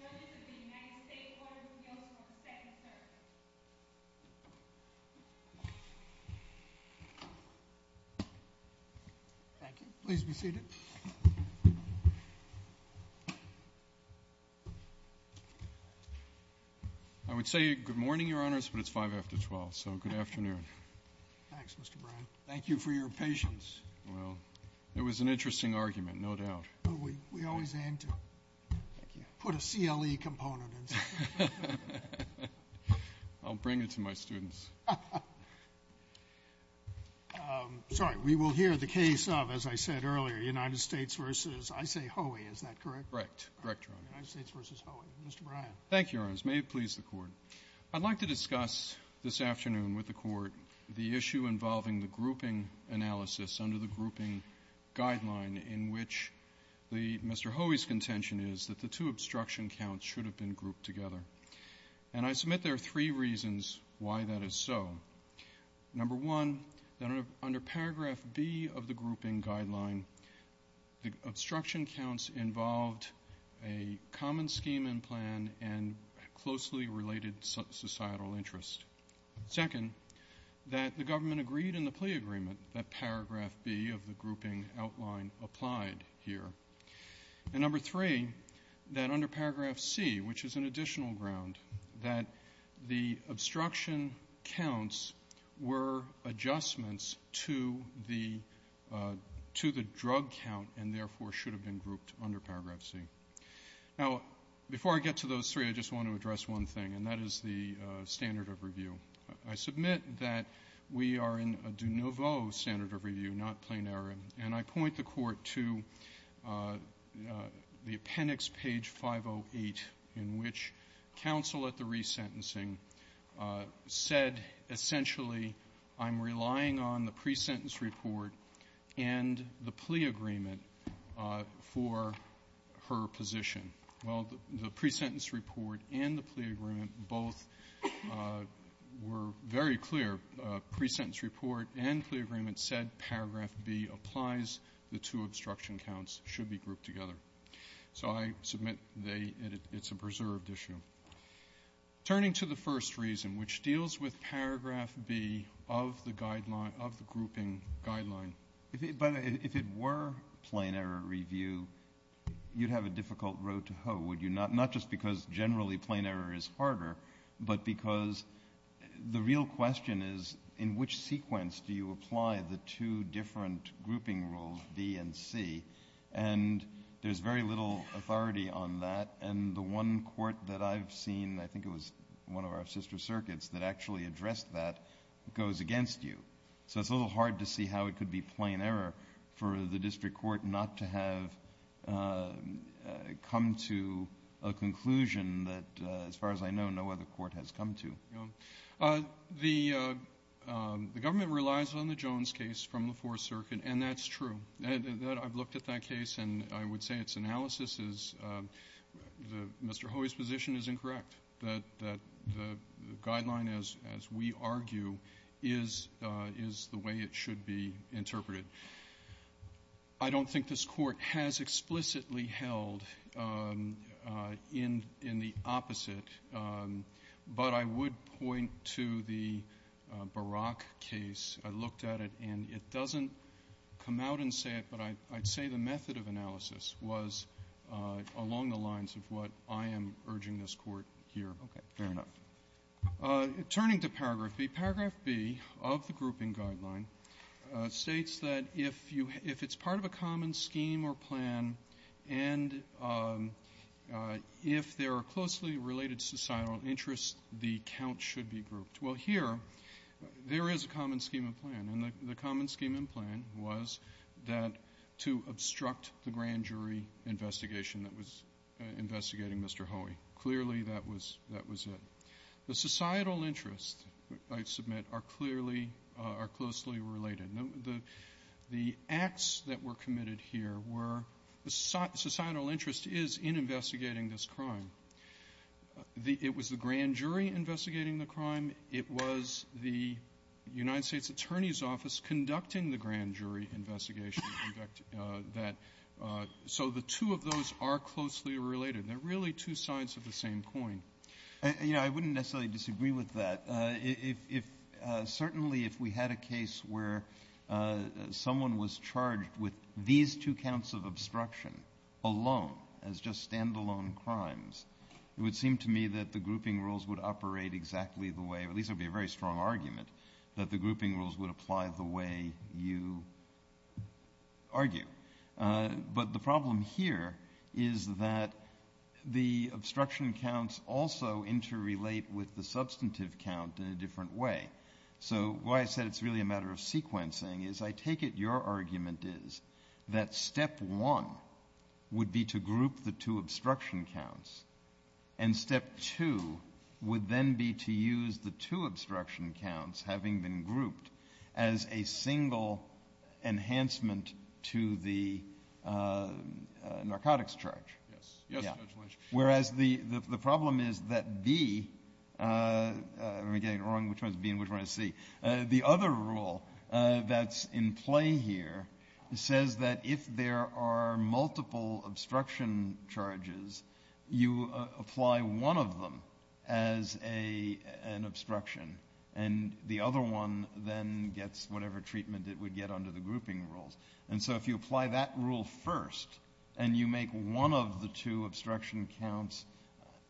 Thank you. Please be seated. I would say good morning, Your Honors, but it's five after twelve, so good afternoon. Thanks, Mr. Brown. Thank you for your patience. Well, it was an interesting argument, no doubt. We always aim to put a CLE component in something. I'll bring it to my students. Sorry, we will hear the case of, as I said earlier, United States v. I say Hoey, is that correct? Correct. United States v. Hoey. Mr. Bryan. Thank you, Your Honors. May it please the Court. I'd like to discuss this afternoon with the Court the issue involving the grouping analysis under the grouping guideline in which Mr. Hoey's contention is that the two obstruction counts should have been grouped together. And I submit there are three reasons why that is so. Number one, under paragraph B of the grouping guideline, the obstruction counts involved a common scheme and plan and closely related societal interest. Second, that the government agreed in the plea agreement that paragraph B of the grouping outline applied here. And number three, that under paragraph C, which is an additional ground, that the obstruction counts were adjustments to the drug count and therefore should have been grouped under paragraph C. Now, before I get to those three, I just want to address one thing, and that is the standard of review. I submit that we are in a de nouveau standard of review, not plenaire. And I point the Court to the appendix, page 508, in which counsel at the resentencing said, essentially, I'm relying on the pre-sentence report and the plea agreement for her position. Well, the pre-sentence report and the plea agreement both were very clear. Pre-sentence report and plea agreement said paragraph B applies. The two obstruction counts should be grouped together. So I submit it's a preserved issue. Turning to the first reason, which deals with paragraph B of the guideline, of the grouping guideline. But if it were plenaire review, you'd have a difficult road to hoe, would you? Not just because generally plenaire is harder, but because the real question is, in which sequence do you apply the two different grouping rules, B and C? And there's very little authority on that. And the one court that I've seen, I think it was one of our sister circuits, that actually addressed that goes against you. So it's a little hard to see how it could be plain error for the district court not to have come to a conclusion that, as far as I know, no other court has come to. The government relies on the Jones case from the Fourth Circuit, and that's true. I've looked at that case, and I would say its analysis is Mr. Hoey's position is incorrect, that the guideline, as we argue, is the way it should be interpreted. I don't think this Court has explicitly held in the opposite, but I would point to the Barack case. I looked at it, and it doesn't come out and say it, but I'd say the method of analysis was along the lines of what I am urging this Court here. Roberts. Okay. Fair enough. Turning to Paragraph B, Paragraph B of the grouping guideline states that if it's part of a common scheme or plan and if there are closely related societal interests, the count should be grouped. Well, here, there is a common scheme and plan, and the common scheme and plan was that to obstruct the grand jury investigation that was investigating Mr. Hoey. Clearly, that was it. The societal interests, I submit, are clearly or closely related. The acts that were committed here were the societal interest is in investigating this crime. It was the grand jury investigating the crime. It was the United States Attorney's Office conducting the grand jury investigation. In fact, that so the two of those are closely related. They're really two sides of the same coin. You know, I wouldn't necessarily disagree with that. If certainly if we had a case where someone was charged with these two counts of obstruction alone as just stand-alone crimes, it would seem to me that the grouping rules would operate exactly the way, or at least it would be a very strong argument, that the grouping rules would apply the way you argue. But the problem here is that the obstruction counts also interrelate with the substantive count in a different way. So why I said it's really a matter of sequencing is I take it your argument is that step one would be to group the two obstruction counts and step two would then be to use the two obstruction counts having been grouped as a single enhancement to the narcotics charge. Yes. Yes, Judge Lynch. Whereas the problem is that B, am I getting it wrong? Which one is B and which one is C? The other rule that's in play here says that if there are multiple obstruction charges, you apply one of them as an obstruction and the other one then gets whatever treatment it would get under the grouping rules. And so if you apply that rule first and you make one of the two obstruction counts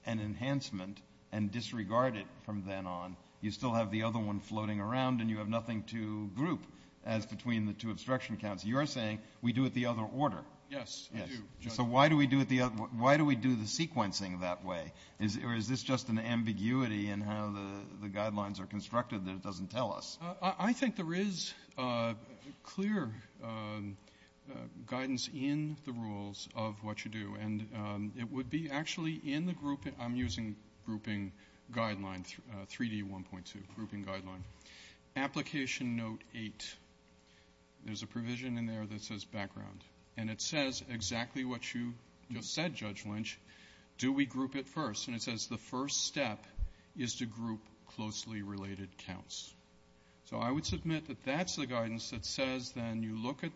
an enhancement and disregard it from then on, you still have the other one floating around and you have nothing to group as between the two obstruction counts. You're saying we do it the other order. Yes, I do, Judge. So why do we do the sequencing that way? Or is this just an ambiguity in how the guidelines are constructed that it doesn't tell us? I think there is clear guidance in the rules of what you do. And it would be actually in the grouping. I'm using grouping guidelines, 3D 1.2, grouping guidelines. Application Note 8, there's a provision in there that says background. And it says exactly what you just said, Judge Lynch, do we group it first? And it says the first step is to group closely related counts. So I would submit that that's the guidance that says then you look at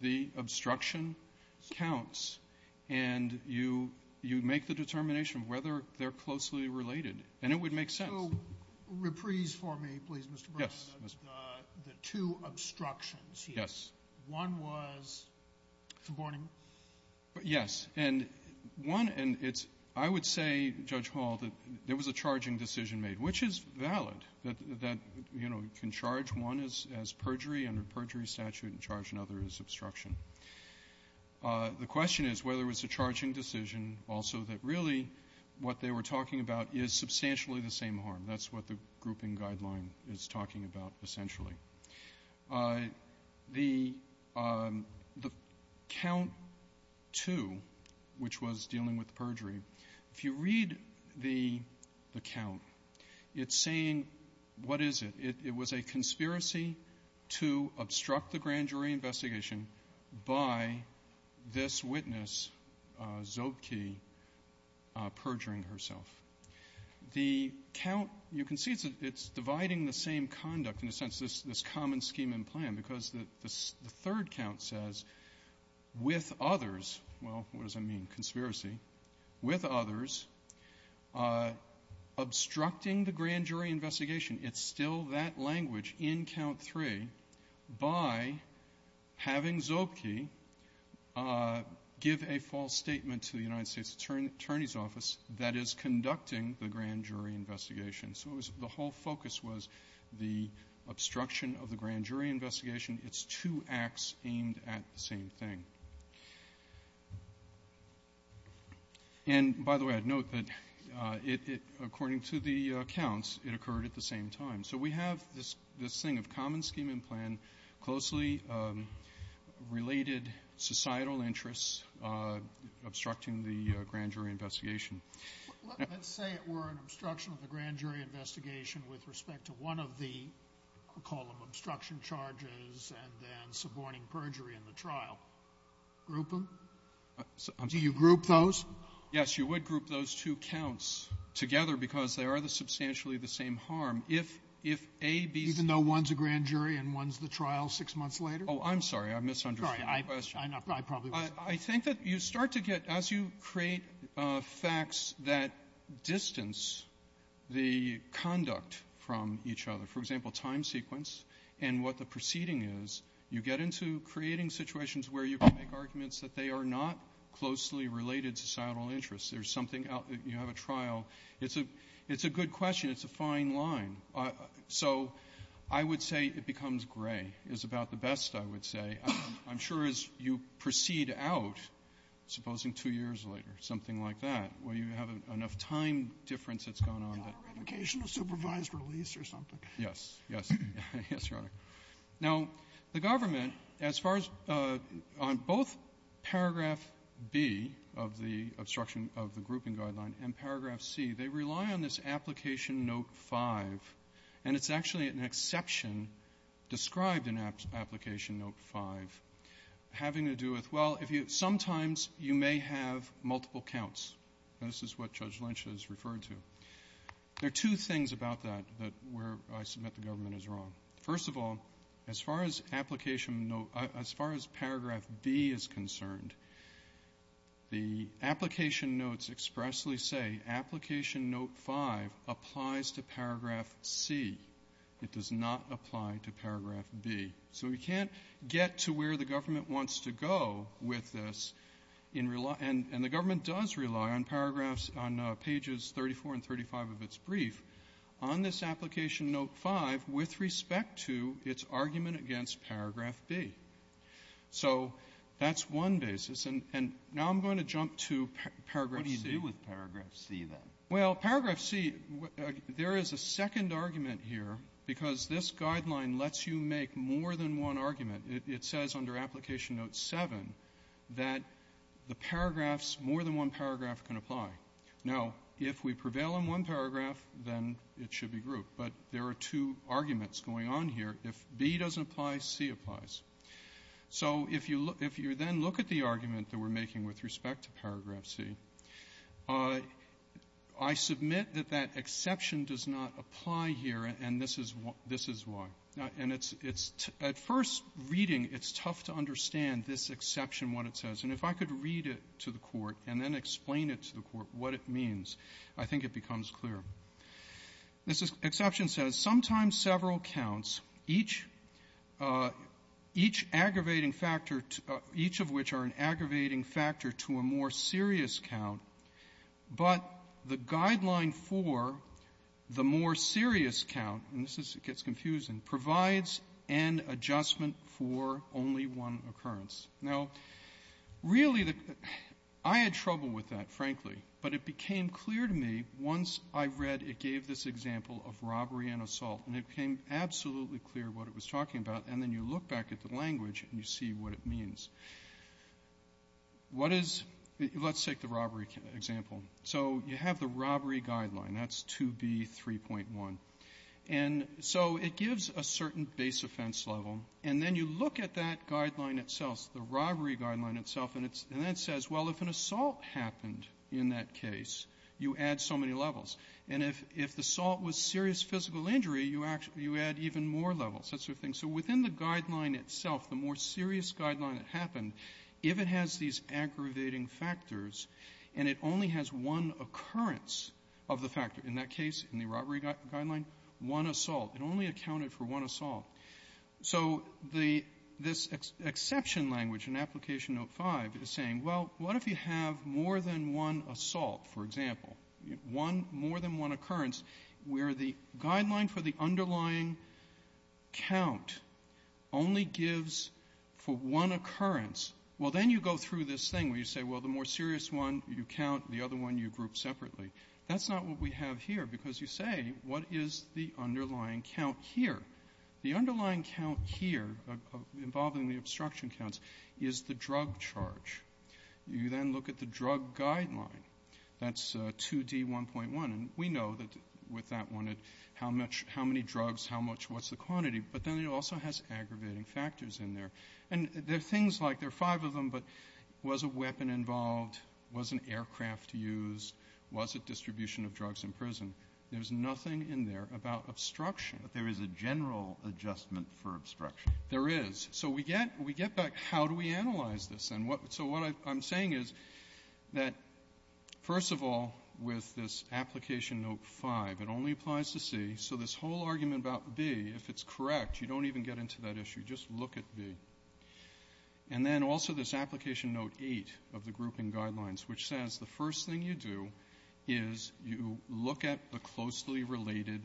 the obstruction counts and you make the determination of whether they're closely related. And it would make sense. So reprise for me, please, Mr. Bernstein. Yes, Mr. Bernstein. The two obstructions here. Yes. One was conborning. Yes. And one, and it's, I would say, Judge Hall, that there was a charging decision made, which is valid, that, you know, you can charge one as perjury under perjury statute and charge another as obstruction. The question is whether it was a charging decision also that really what they were talking about is substantially the same harm. That's what the grouping guideline is talking about, essentially. The count 2, which was dealing with perjury, if you read the count, it's saying what is it? It was a conspiracy to obstruct the grand jury investigation by this witness, Zobke, perjuring herself. The count, you can see it's dividing the same conduct in a sense, this common scheme and plan, because the third count says with others, well, what does that mean, conspiracy, with others, obstructing the grand jury investigation. It's still that language in count 3 by having Zobke give a false statement to the United States Attorney's Office that is conducting the grand jury investigation. So it was the whole focus was the obstruction of the grand jury investigation. It's two acts aimed at the same thing. And, by the way, I'd note that it, according to the counts, it occurred at the same time. So we have this thing of common scheme and plan, closely related societal interests obstructing the grand jury investigation. Sotomayor Let's say it were an obstruction of the grand jury investigation with respect to one of the, call them obstruction charges, and then suborning perjury in the trial. Group them? Do you group those? Gershengorn Yes. You would group those two counts together because they are the substantially the same harm. If a, b ---- Sotomayor Even though one's a grand jury and one's the trial six months later? Gershengorn Oh, I'm sorry. I misunderstood the question. Sotomayor Sorry. I probably was. Gershengorn I think that you start to get, as you create facts that distance the conduct from each other, for example, time sequence and what the proceeding is, you get into creating situations where you can make arguments that they are not closely related societal interests. There's something out there. You have a trial. It's a good question. It's a fine line. So I would say it becomes gray is about the best, I would say. I'm sure as you proceed out, supposing two years later, something like that, where you have enough time difference that's gone on that ---- Sotomayor Is that a revocation of supervised release or something? Gershengorn Yes. Yes. Yes, Your Honor. Now, the government, as far as on both paragraph B of the obstruction of the grouping guideline and paragraph C, they rely on this application note 5, and it's actually an exception described in application note 5 having to do with, well, if you ---- sometimes you may have multiple counts. This is what Judge Lynch has referred to. There are two things about that, that where I submit the government is wrong. First of all, as far as application note ---- as far as paragraph B is concerned, the application notes expressly say application note 5 applies to paragraph C. It does not apply to paragraph B. So we can't get to where the government wants to go with this and the government does rely on paragraphs on pages 34 and 35 of its brief on this application note 5 with respect to its argument against paragraph B. So that's one basis. And now I'm going to jump to paragraph C. Breyer What do you do with paragraph C, then? Gershengorn Well, paragraph C, there is a second argument here because this guideline lets you make more than one argument. It says under application note 7 that the paragraphs, more than one paragraph can apply. Now, if we prevail on one paragraph, then it should be grouped. But there are two arguments going on here. If B doesn't apply, C applies. So if you then look at the argument that we're making with respect to paragraph C, I submit that that exception does not apply here, and this is why. And it's at first reading, it's tough to understand this exception, what it says. And if I could read it to the Court and then explain it to the Court, what it means, I think it becomes clear. This exception says, sometimes several counts, each aggravating factor, each of which are an aggravating factor to a more serious count, but the guideline for the more serious count, and this gets confusing, provides an adjustment for only one occurrence. Now, really, I had trouble with that, frankly, but it became clear to me once I read it gave this example of robbery and assault, and it became absolutely clear what it was talking about, and then you look back at the language and you see what it means. What is the --? Let's take the robbery example. So you have the robbery guideline. That's 2B3.1. And so it gives a certain base offense level. And then you look at that guideline itself, the robbery guideline itself, and then it says, well, if an assault happened in that case, you add so many levels. And if the assault was serious physical injury, you add even more levels. So within the guideline itself, the more serious guideline that happened, if it has these aggravating factors and it only has one occurrence of the factor, in that case, in the robbery guideline, one assault. It only accounted for one assault. So this exception language in Application Note 5 is saying, well, what if you have more than one assault, for example, more than one occurrence, where the guideline for the underlying count only gives for one occurrence? Well, then you go through this thing where you say, well, the more serious one you count, the other one you group separately. That's not what we have here, because you say, what is the underlying count here? The underlying count here involving the obstruction counts is the drug charge. You then look at the drug guideline. That's 2D1.1. And we know that with that one, how many drugs, how much, what's the quantity? But then it also has aggravating factors in there. And they're things like, there are five of them, but was a weapon involved? Was an aircraft used? Was it distribution of drugs in prison? There's nothing in there about obstruction. But there is a general adjustment for obstruction. There is. So we get back, how do we analyze this? So what I'm saying is that, first of all, with this Application Note 5, it only applies to C. So this whole argument about B, if it's correct, you don't even get into that issue. Just look at B. And then also this Application Note 8 of the grouping guidelines, which says the first thing you do is you look at the closely related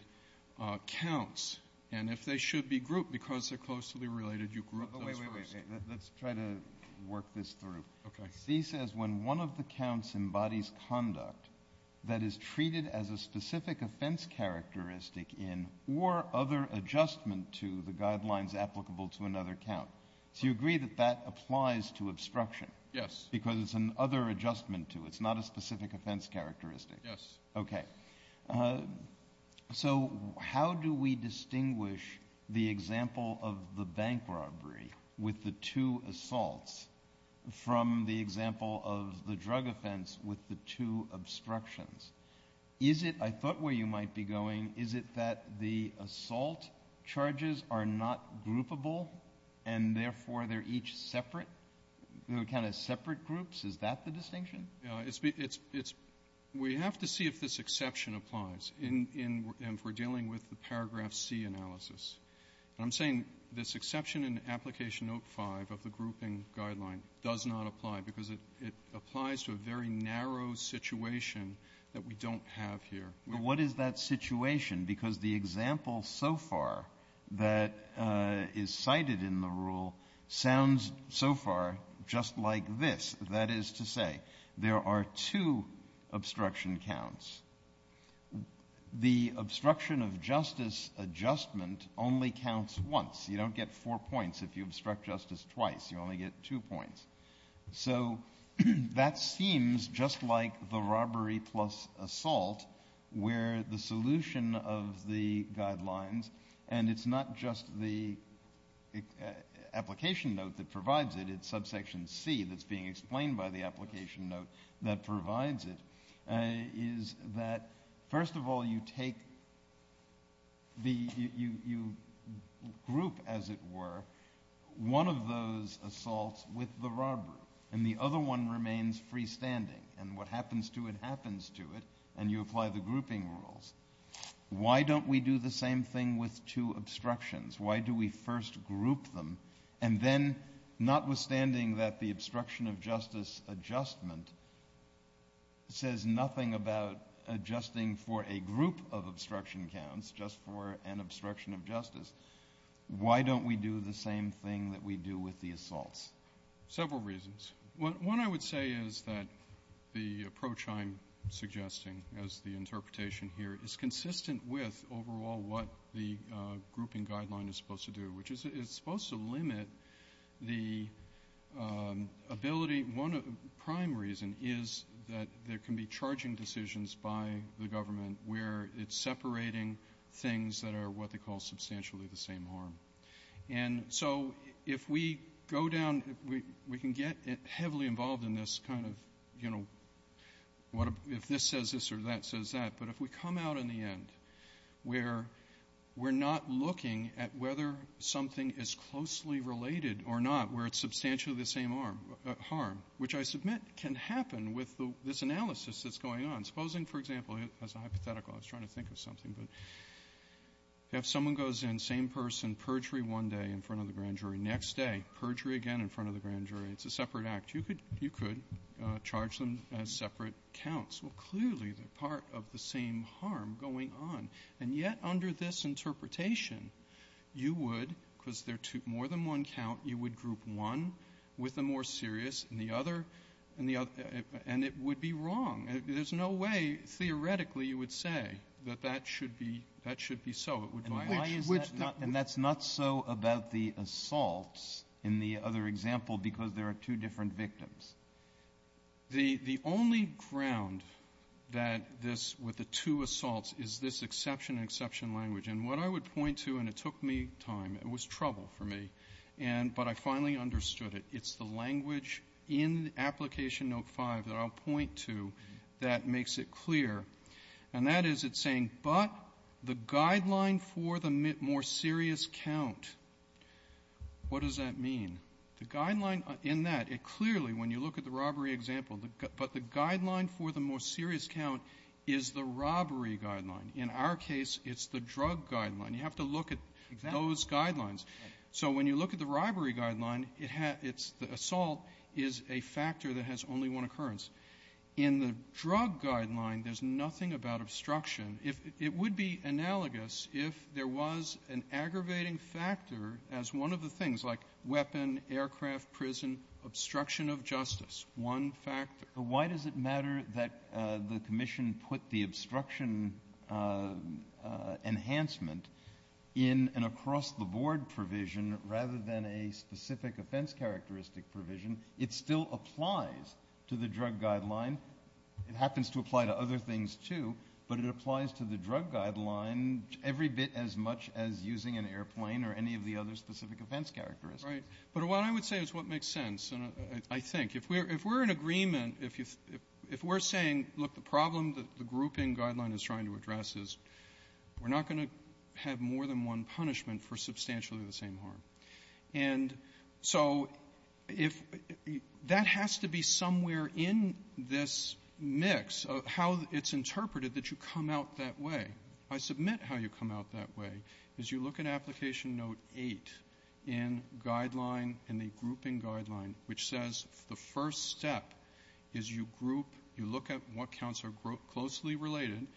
counts. And if they should be grouped, because they're closely related, you group those first. Kennedy. Oh, wait, wait, wait. Let's try to work this through. Kennedy. Okay. Kennedy. C says when one of the counts embodies conduct that is treated as a specific offense characteristic in or other adjustment to the guidelines applicable to another count. So you agree that that applies to obstruction? Yes. Because it's an other adjustment to it. It's not a specific offense characteristic. Yes. Okay. So how do we distinguish the example of the bank robbery with the two assaults from the example of the drug offense with the two obstructions? Is it, I thought where you might be going, is it that the assault charges are not groupable and, therefore, they're each separate? They're kind of separate groups? Is that the distinction? It's been we have to see if this exception applies in if we're dealing with the paragraph C analysis. And I'm saying this exception in Application Note 5 of the grouping guideline does not apply because it applies to a very narrow situation that we don't have here. Well, what is that situation? Because the example so far that is cited in the rule sounds so far just like this. That is to say, there are two obstruction counts. The obstruction of justice adjustment only counts once. You don't get four points if you obstruct justice twice. You only get two points. So that seems just like the robbery plus assault where the solution of the guidelines and it's not just the application note that provides it, it's subsection C that's being group, as it were, one of those assaults with the robbery and the other one remains freestanding and what happens to it happens to it and you apply the grouping rules. Why don't we do the same thing with two obstructions? Why do we first group them and then, notwithstanding that the obstruction of justice adjustment says nothing about adjusting for a group of why don't we do the same thing that we do with the assaults? Several reasons. One I would say is that the approach I'm suggesting as the interpretation here is consistent with overall what the grouping guideline is supposed to do, which is it's supposed to limit the ability. One prime reason is that there can be charging decisions by the government where it's substantially the same harm. And so if we go down, we can get heavily involved in this kind of, you know, if this says this or that says that, but if we come out in the end where we're not looking at whether something is closely related or not where it's substantially the same harm, which I submit can happen with this analysis that's going on. Supposing, for example, as a hypothetical, I was trying to think of something, but if someone goes in, same person, perjury one day in front of the grand jury. Next day, perjury again in front of the grand jury. It's a separate act. You could charge them as separate counts. Well, clearly they're part of the same harm going on. And yet under this interpretation, you would, because there are more than one count, you would group one with the more serious and the other and it would be wrong. And there's no way, theoretically, you would say that that should be so. It would violate each. And that's not so about the assaults in the other example because there are two different victims. The only ground that this, with the two assaults, is this exception and exception language. And what I would point to, and it took me time, it was trouble for me, but I finally understood it. It's the language in Application Note 5 that I'll point to that makes it clear. And that is it's saying, but the guideline for the more serious count. What does that mean? The guideline in that, it clearly, when you look at the robbery example, but the guideline for the more serious count is the robbery guideline. In our case, it's the drug guideline. You have to look at those guidelines. So when you look at the robbery guideline, it has its assault is a factor that has only one occurrence. In the drug guideline, there's nothing about obstruction. It would be analogous if there was an aggravating factor as one of the things, like weapon, aircraft, prison, obstruction of justice, one factor. Kennedy. Why does it matter that the commission put the obstruction enhancement in an across-the-board provision rather than a specific offense characteristic provision? It still applies to the drug guideline. It happens to apply to other things, too, but it applies to the drug guideline every bit as much as using an airplane or any of the other specific offense characteristics. Right. But what I would say is what makes sense, I think. If we're in agreement, if we're saying, look, the problem that the grouping guideline is trying to address is we're not going to have more than one punishment for substantially the same harm. And so if that has to be somewhere in this mix of how it's interpreted that you come out that way. I submit how you come out that way, is you look at Application Note 8 in Guideline and the grouping guideline, which says the first step is you group, you look at what counts are closely related,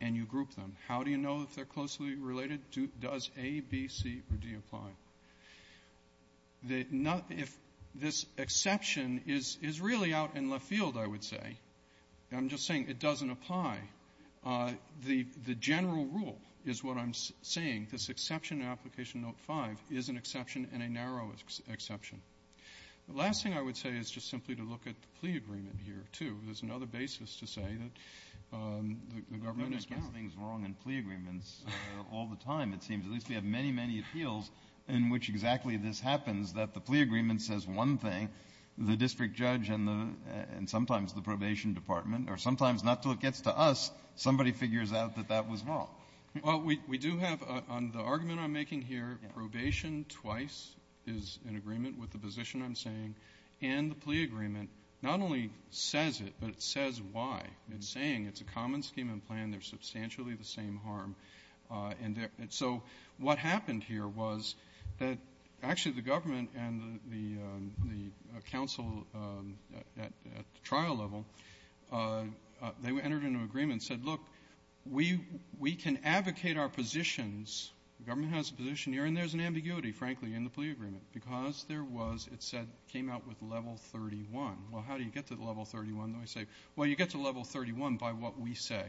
and you group them. How do you know if they're closely related? Does A, B, C, or D apply? If this exception is really out in left field, I would say. I'm just saying it doesn't apply. The general rule is what I'm saying. This exception in Application Note 5 is an exception and a narrow exception. The last thing I would say is just simply to look at the plea agreement here, too. all the time, it seems. At least we have many, many appeals in which exactly this happens, that the plea agreement says one thing, the district judge and sometimes the probation department or sometimes, not until it gets to us, somebody figures out that that was wrong. Well, we do have, on the argument I'm making here, probation twice is in agreement with the position I'm saying, and the plea agreement not only says it, but it says why. It's saying it's a common scheme and plan. There's substantially the same harm. So what happened here was that actually the government and the council at the trial level, they entered into an agreement and said, look, we can advocate our positions. The government has a position here, and there's an ambiguity, frankly, in the plea agreement because there was, it said, came out with level 31. Well, how do you get to level 31? They say, well, you get to level 31 by what we say.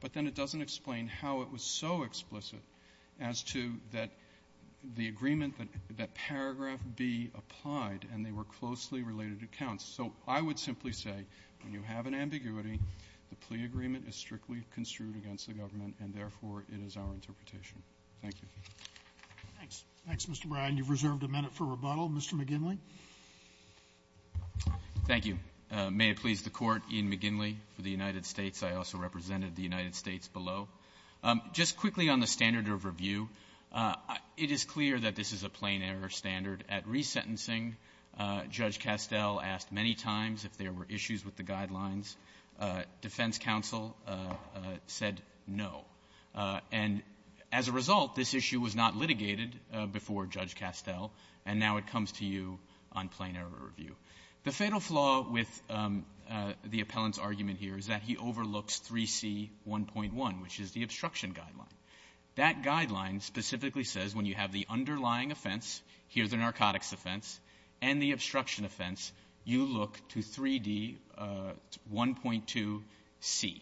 But then it doesn't explain how it was so explicit as to that the agreement that paragraph B applied, and they were closely related accounts. So I would simply say when you have an ambiguity, the plea agreement is strictly construed against the government, and therefore, it is our interpretation. Thank you. Roberts. Thanks, Mr. Bryan. You've reserved a minute for rebuttal. Mr. McGinley. McGinley. Thank you. May it please the Court, Ian McGinley for the United States. I also represented the United States below. Just quickly on the standard of review, it is clear that this is a plain-error standard. At resentencing, Judge Castell asked many times if there were issues with the guidelines. Defense counsel said no. And as a result, this issue was not litigated before Judge Castell, and now it comes to you on plain-error review. The fatal flaw with the appellant's argument here is that he overlooks 3C.1.1, which is the obstruction guideline. That guideline specifically says when you have the underlying offense, here's the narcotics offense, and the obstruction offense, you look to 3D.1.2c,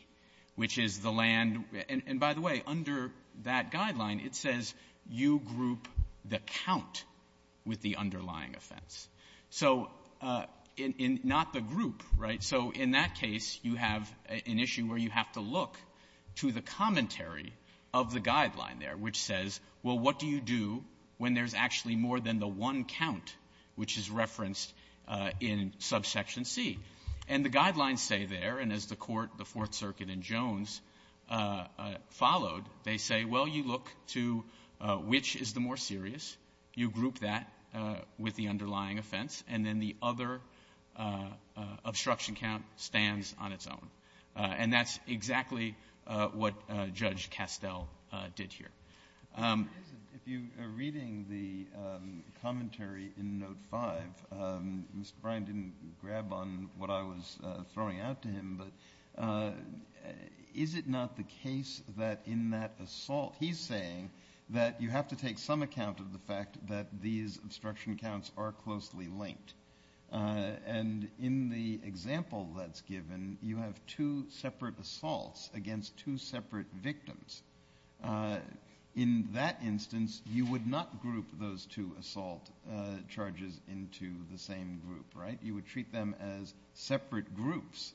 which is the land. And by the way, under that guideline, it says you group the count with the underlying offense. So in not the group, right? So in that case, you have an issue where you have to look to the commentary of the guideline there, which says, well, what do you do when there's actually more than the one count which is referenced in subsection C? And the guidelines say there, and as the Court, the Fourth Circuit, and Jones followed, they say, well, you look to which is the more serious, you group that with the underlying offense, and then the other obstruction count stands on its own. And that's exactly what Judge Castell did here. Kennedy. If you are reading the commentary in Note 5, Mr. Bryan didn't grab on what I was throwing out to him, but is it not the case that in that assault, he's saying that you have to take some account of the fact that these obstruction counts are closely linked? And in the example that's given, you have two separate assaults against two separate victims. In that instance, you would not group those two assault charges into the same group, right? You would treat them as separate groups.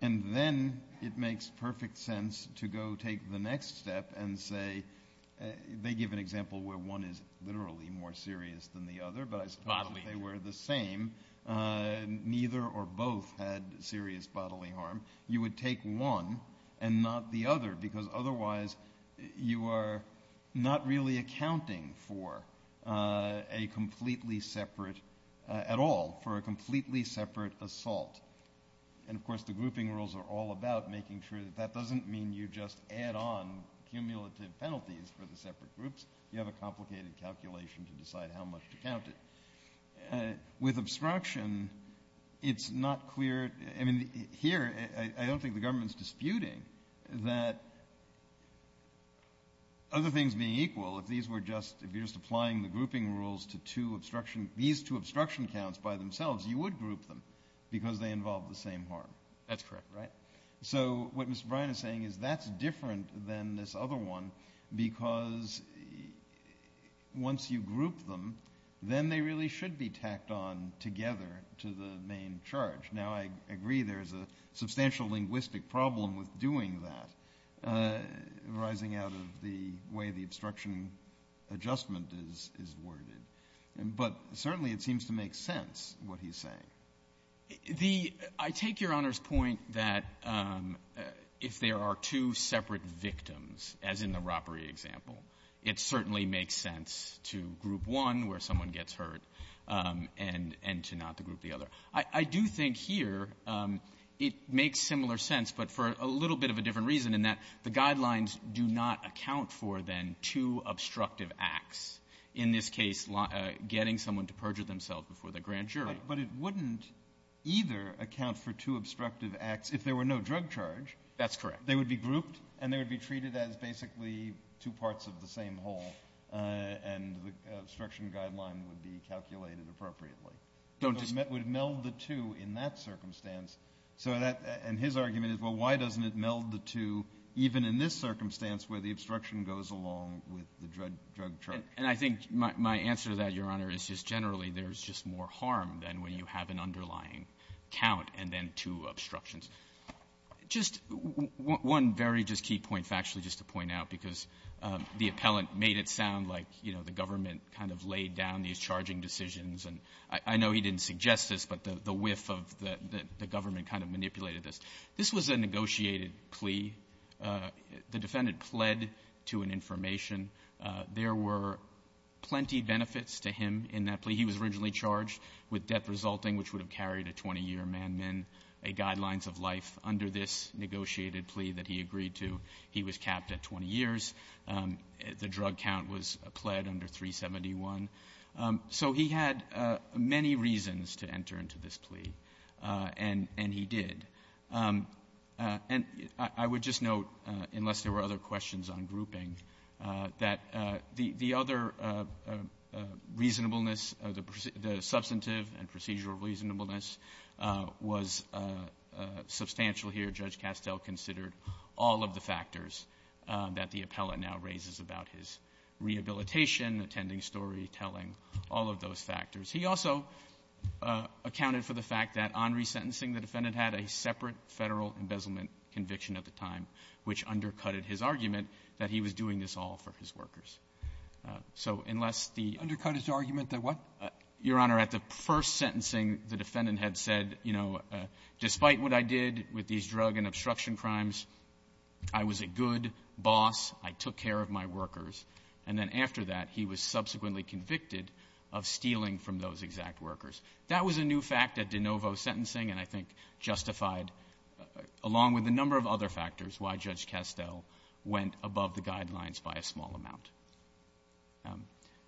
And then it makes perfect sense to go take the next step and say, they give an example where one is literally more serious than the other, but I suppose if they were the same, neither or both had serious bodily harm, you would take one and not the other, because otherwise you are not really accounting for a completely separate, at all, for a completely separate assault. And, of course, the grouping rules are all about making sure that that doesn't mean you just add on cumulative penalties for the separate groups. You have a complicated calculation to decide how much to count it. With obstruction, it's not clear. I mean, here, I don't think the government's disputing that other things being equal, if these were just, if you're just applying the grouping rules to two obstruction, these two obstruction counts by themselves, you would group them, because they involve the same harm. That's correct. Right? So what Mr. Bryan is saying is that's different than this other one, because once you group them, then they really should be tacked on together to the main charge. Now, I agree there's a substantial linguistic problem with doing that arising out of the way the obstruction adjustment is worded, but certainly it seems to make sense, what he's saying. The — I take Your Honor's point that if there are two separate victims, as in the group one where someone gets hurt, and to not group the other. I do think here it makes similar sense, but for a little bit of a different reason, in that the guidelines do not account for, then, two obstructive acts, in this case getting someone to perjure themselves before the grand jury. But it wouldn't either account for two obstructive acts if there were no drug charge. That's correct. They would be grouped, and they would be treated as basically two parts of the same whole, and the obstruction guideline would be calculated appropriately. Don't just — It would meld the two in that circumstance. So that — and his argument is, well, why doesn't it meld the two even in this circumstance where the obstruction goes along with the drug charge? And I think my answer to that, Your Honor, is just generally there's just more harm than when you have an underlying count and then two obstructions. Just one very just key point, factually, just to point out, because the appellant made it sound like, you know, the government kind of laid down these charging decisions, and I know he didn't suggest this, but the whiff of the government kind of manipulated this. This was a negotiated plea. The defendant pled to an information. There were plenty benefits to him in that plea. He was originally charged with death resulting, which would have carried a 20-year man-min, a guidelines of life under this negotiated plea that he agreed to. He was capped at 20 years. The drug count was pled under 371. So he had many reasons to enter into this plea, and he did. And I would just note, unless there were other questions on grouping, that the other reasonableness, the substantive and procedural reasonableness was substantial here. Judge Castell considered all of the factors that the appellant now raises about his rehabilitation, attending story, telling, all of those factors. He also accounted for the fact that on resentencing, the defendant had a separate Federal embezzlement conviction at the time, which undercutted his argument that he was doing this all for his workers. So unless the — Undercut his argument that what? Your Honor, at the first sentencing, the defendant had said, you know, despite what I did with these drug and obstruction crimes, I was a good boss, I took care of my workers. And then after that, he was subsequently convicted of stealing from those exact workers. That was a new fact at de novo sentencing, and I think justified, along with a number of other factors, why Judge Castell went above the guidelines by a small amount.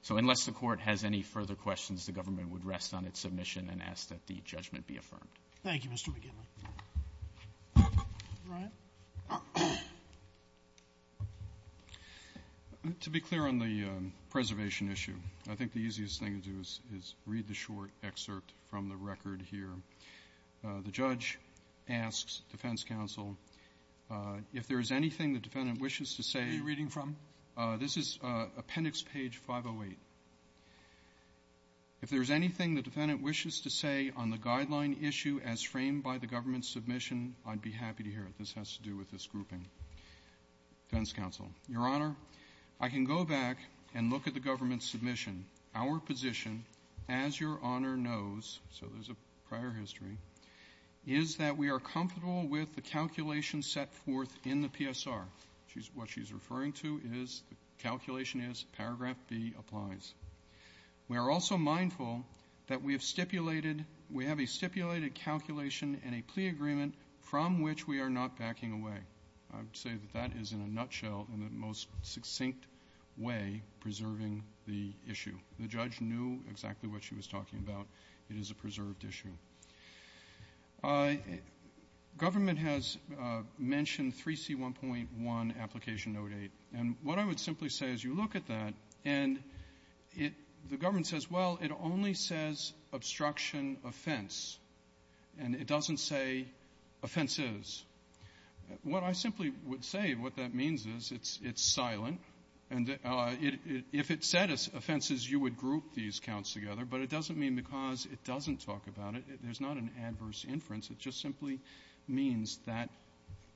So unless the Court has any further questions, the government would rest on its submission and ask that the judgment be affirmed. Thank you, Mr. McGinley. Brian. To be clear on the preservation issue, I think the easiest thing to do is read the short excerpt from the record here. The judge asks defense counsel, if there is anything the defendant wishes to say… Who are you reading from? This is Appendix Page 508. If there is anything the defendant wishes to say on the guideline issue as framed by the government's submission, I'd be happy to hear it. This has to do with this grouping. Defense counsel. Your Honor, I can go back and look at the government's submission. Our position, as Your Honor knows, so there's a prior history, is that we are comfortable with the calculation set forth in the PSR. What she's referring to is, the calculation is, paragraph B applies. We are also mindful that we have stipulated, we have a stipulated calculation and a plea agreement from which we are not backing away. I would say that that is, in a nutshell, in the most succinct way, preserving the issue. The judge knew exactly what she was talking about. It is a preserved issue. Government has mentioned 3C1.1, Application Note 8. And what I would simply say, as you look at that, and it, the government says, well, it only says, obstruction offense, and it doesn't say offenses. What I simply would say, what that means is, it's silent. And if it said offenses, you would group these counts together. But it doesn't mean because it doesn't talk about it. There's not an adverse inference. It just simply means that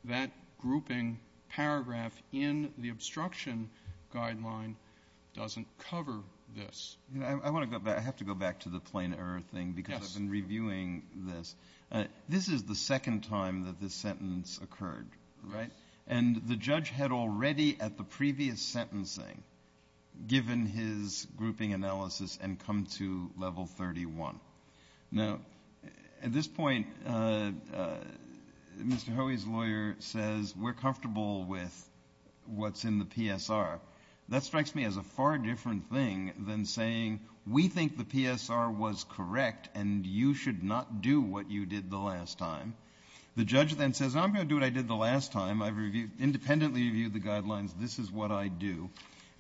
that grouping paragraph in the obstruction guideline doesn't cover this. I want to go back. I have to go back to the plain error thing. Yes. Because I've been reviewing this. This is the second time that this sentence occurred, right? Yes. And the judge had already, at the previous sentencing, given his grouping analysis and come to Level 31. Now, at this point, Mr. Hoey's lawyer says, we're comfortable with what's in the PSR. That strikes me as a far different thing than saying, we think the PSR was correct, and you should not do what you did the last time. The judge then says, I'm going to do what I did the last time. I've independently reviewed the guidelines. This is what I do.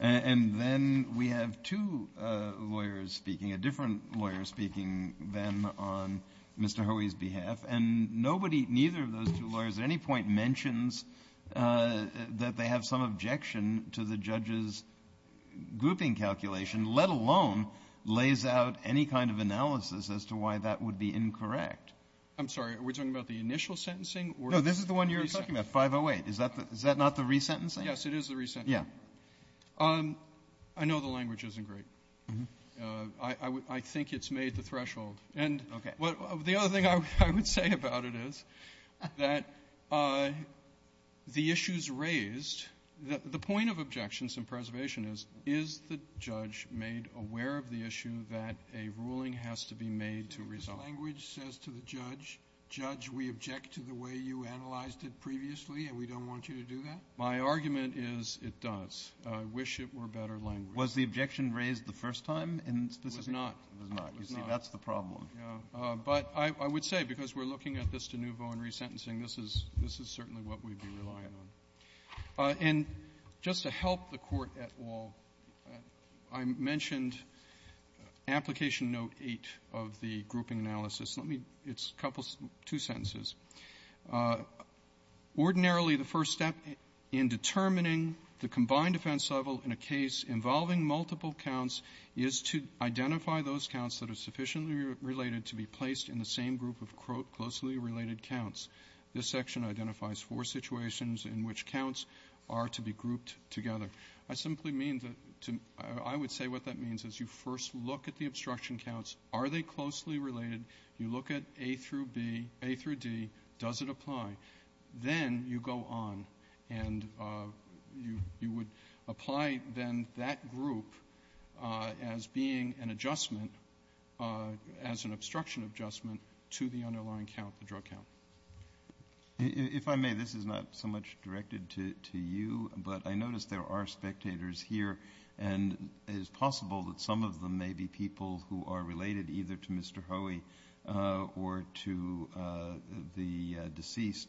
And then we have two lawyers speaking, a different lawyer speaking then on Mr. Hoey's behalf. And nobody, neither of those two lawyers at any point mentions that they have some objection to the judge's grouping calculation, let alone lays out any kind of analysis as to why that would be incorrect. I'm sorry. Are we talking about the initial sentencing or the re-sentencing? No. This is the one you're talking about, 508. Is that not the re-sentencing? Yes. It is the re-sentencing. Yeah. I know the language isn't great. I think it's made the threshold. And the other thing I would say about it is that the issues raised, the point of objections in preservation is, is the judge made aware of the issue that a ruling has to be made to resolve? The language says to the judge, Judge, we object to the way you analyzed it previously, and we don't want you to do that? My argument is it does. I wish it were better language. Was the objection raised the first time in specific? It was not. It was not. You see, that's the problem. Yeah. But I would say, because we're looking at this de nouveau in re-sentencing, this is certainly what we'd be relying on. And just to help the Court at all, I mentioned Application Note 8 of the grouping analysis. It's a couple, two sentences. Ordinarily, the first step in determining the combined offense level in a case involving multiple counts is to identify those counts that are sufficiently related to be placed in the same group of closely related counts. This section identifies four situations in which counts are to be grouped together. I simply mean to — I would say what that means is you first look at the obstruction counts. Are they closely related? You look at A through B, A through D. Does it apply? Then you go on, and you would apply, then, that group as being an adjustment, as an obstruction adjustment to the underlying count, the drug count. If I may, this is not so much directed to you, but I notice there are spectators here, and it is possible that some of them may be people who are related either to Mr. Hoey or to the deceased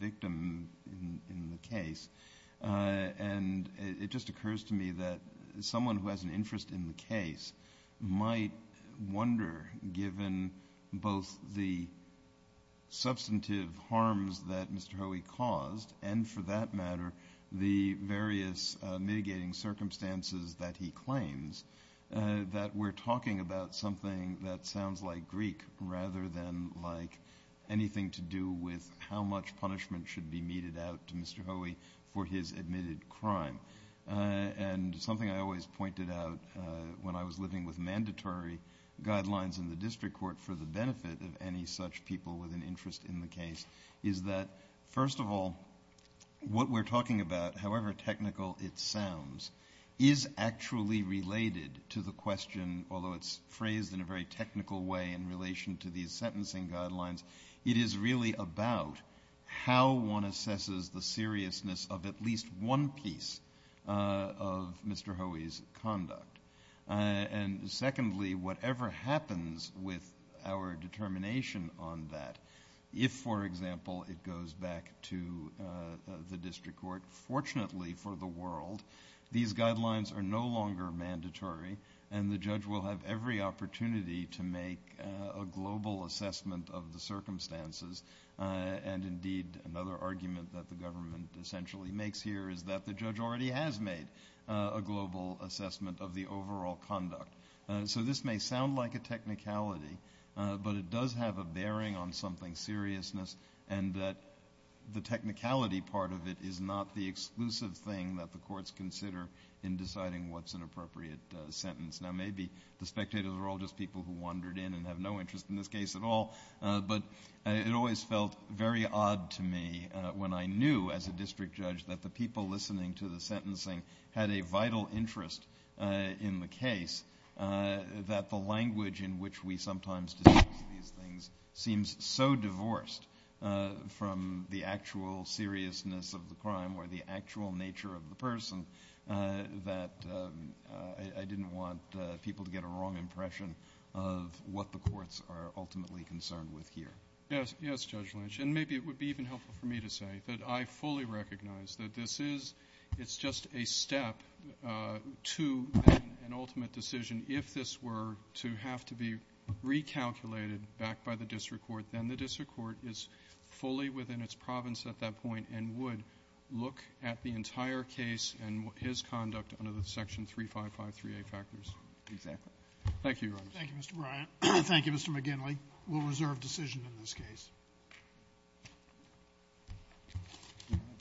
victim in the case. And it just occurs to me that someone who has an interest in the case might wonder, given both the substantive harms that Mr. Hoey caused and, for that matter, the various mitigating circumstances that he claims, that we're talking about something that sounds like Greek rather than like anything to do with how much punishment should be meted out to Mr. Hoey for his admitted crime. And something I always pointed out when I was living with mandatory guidelines in the district court for the benefit of any such people with an interest in the case is that, first of all, what we're talking about, however technical it sounds, is actually related to the question, although it's phrased in a very technical way in relation to these sentencing guidelines, it is really about how one assesses the seriousness of at least one piece of Mr. Hoey's conduct. And secondly, whatever happens with our determination on that, if, for example, it goes back to the district court, fortunately for the world, these guidelines are no longer mandatory and the judge will have every opportunity to make a global assessment of the circumstances and, indeed, another argument that the government essentially makes here is that the judge already has made a global assessment of the overall conduct. So this may sound like a technicality, but it does have a bearing on something seriousness and that the technicality part of it is not the exclusive thing that the courts consider in deciding what's an appropriate sentence. Now maybe the spectators are all just people who wandered in and have no interest in this case at all, but it always felt very odd to me when I knew, as a district judge, that the people listening to the sentencing had a vital interest in the case, that the language in which we sometimes discuss these things seems so divorced from the actual seriousness of the crime or the actual nature of the person that I didn't want people to get a wrong impression of what the courts are ultimately concerned with here. Yes, Judge Lynch, and maybe it would be even helpful for me to say that I fully recognize that this is just a step to an ultimate decision. If this were to have to be recalculated back by the district court, then the district court is fully within its province at that point and would look at the entire case and his conduct under the Section 3553A factors. Exactly. Thank you, Your Honors. Thank you, Mr. Bryant. Thank you, Mr. McGinley. We'll reserve decision in this case.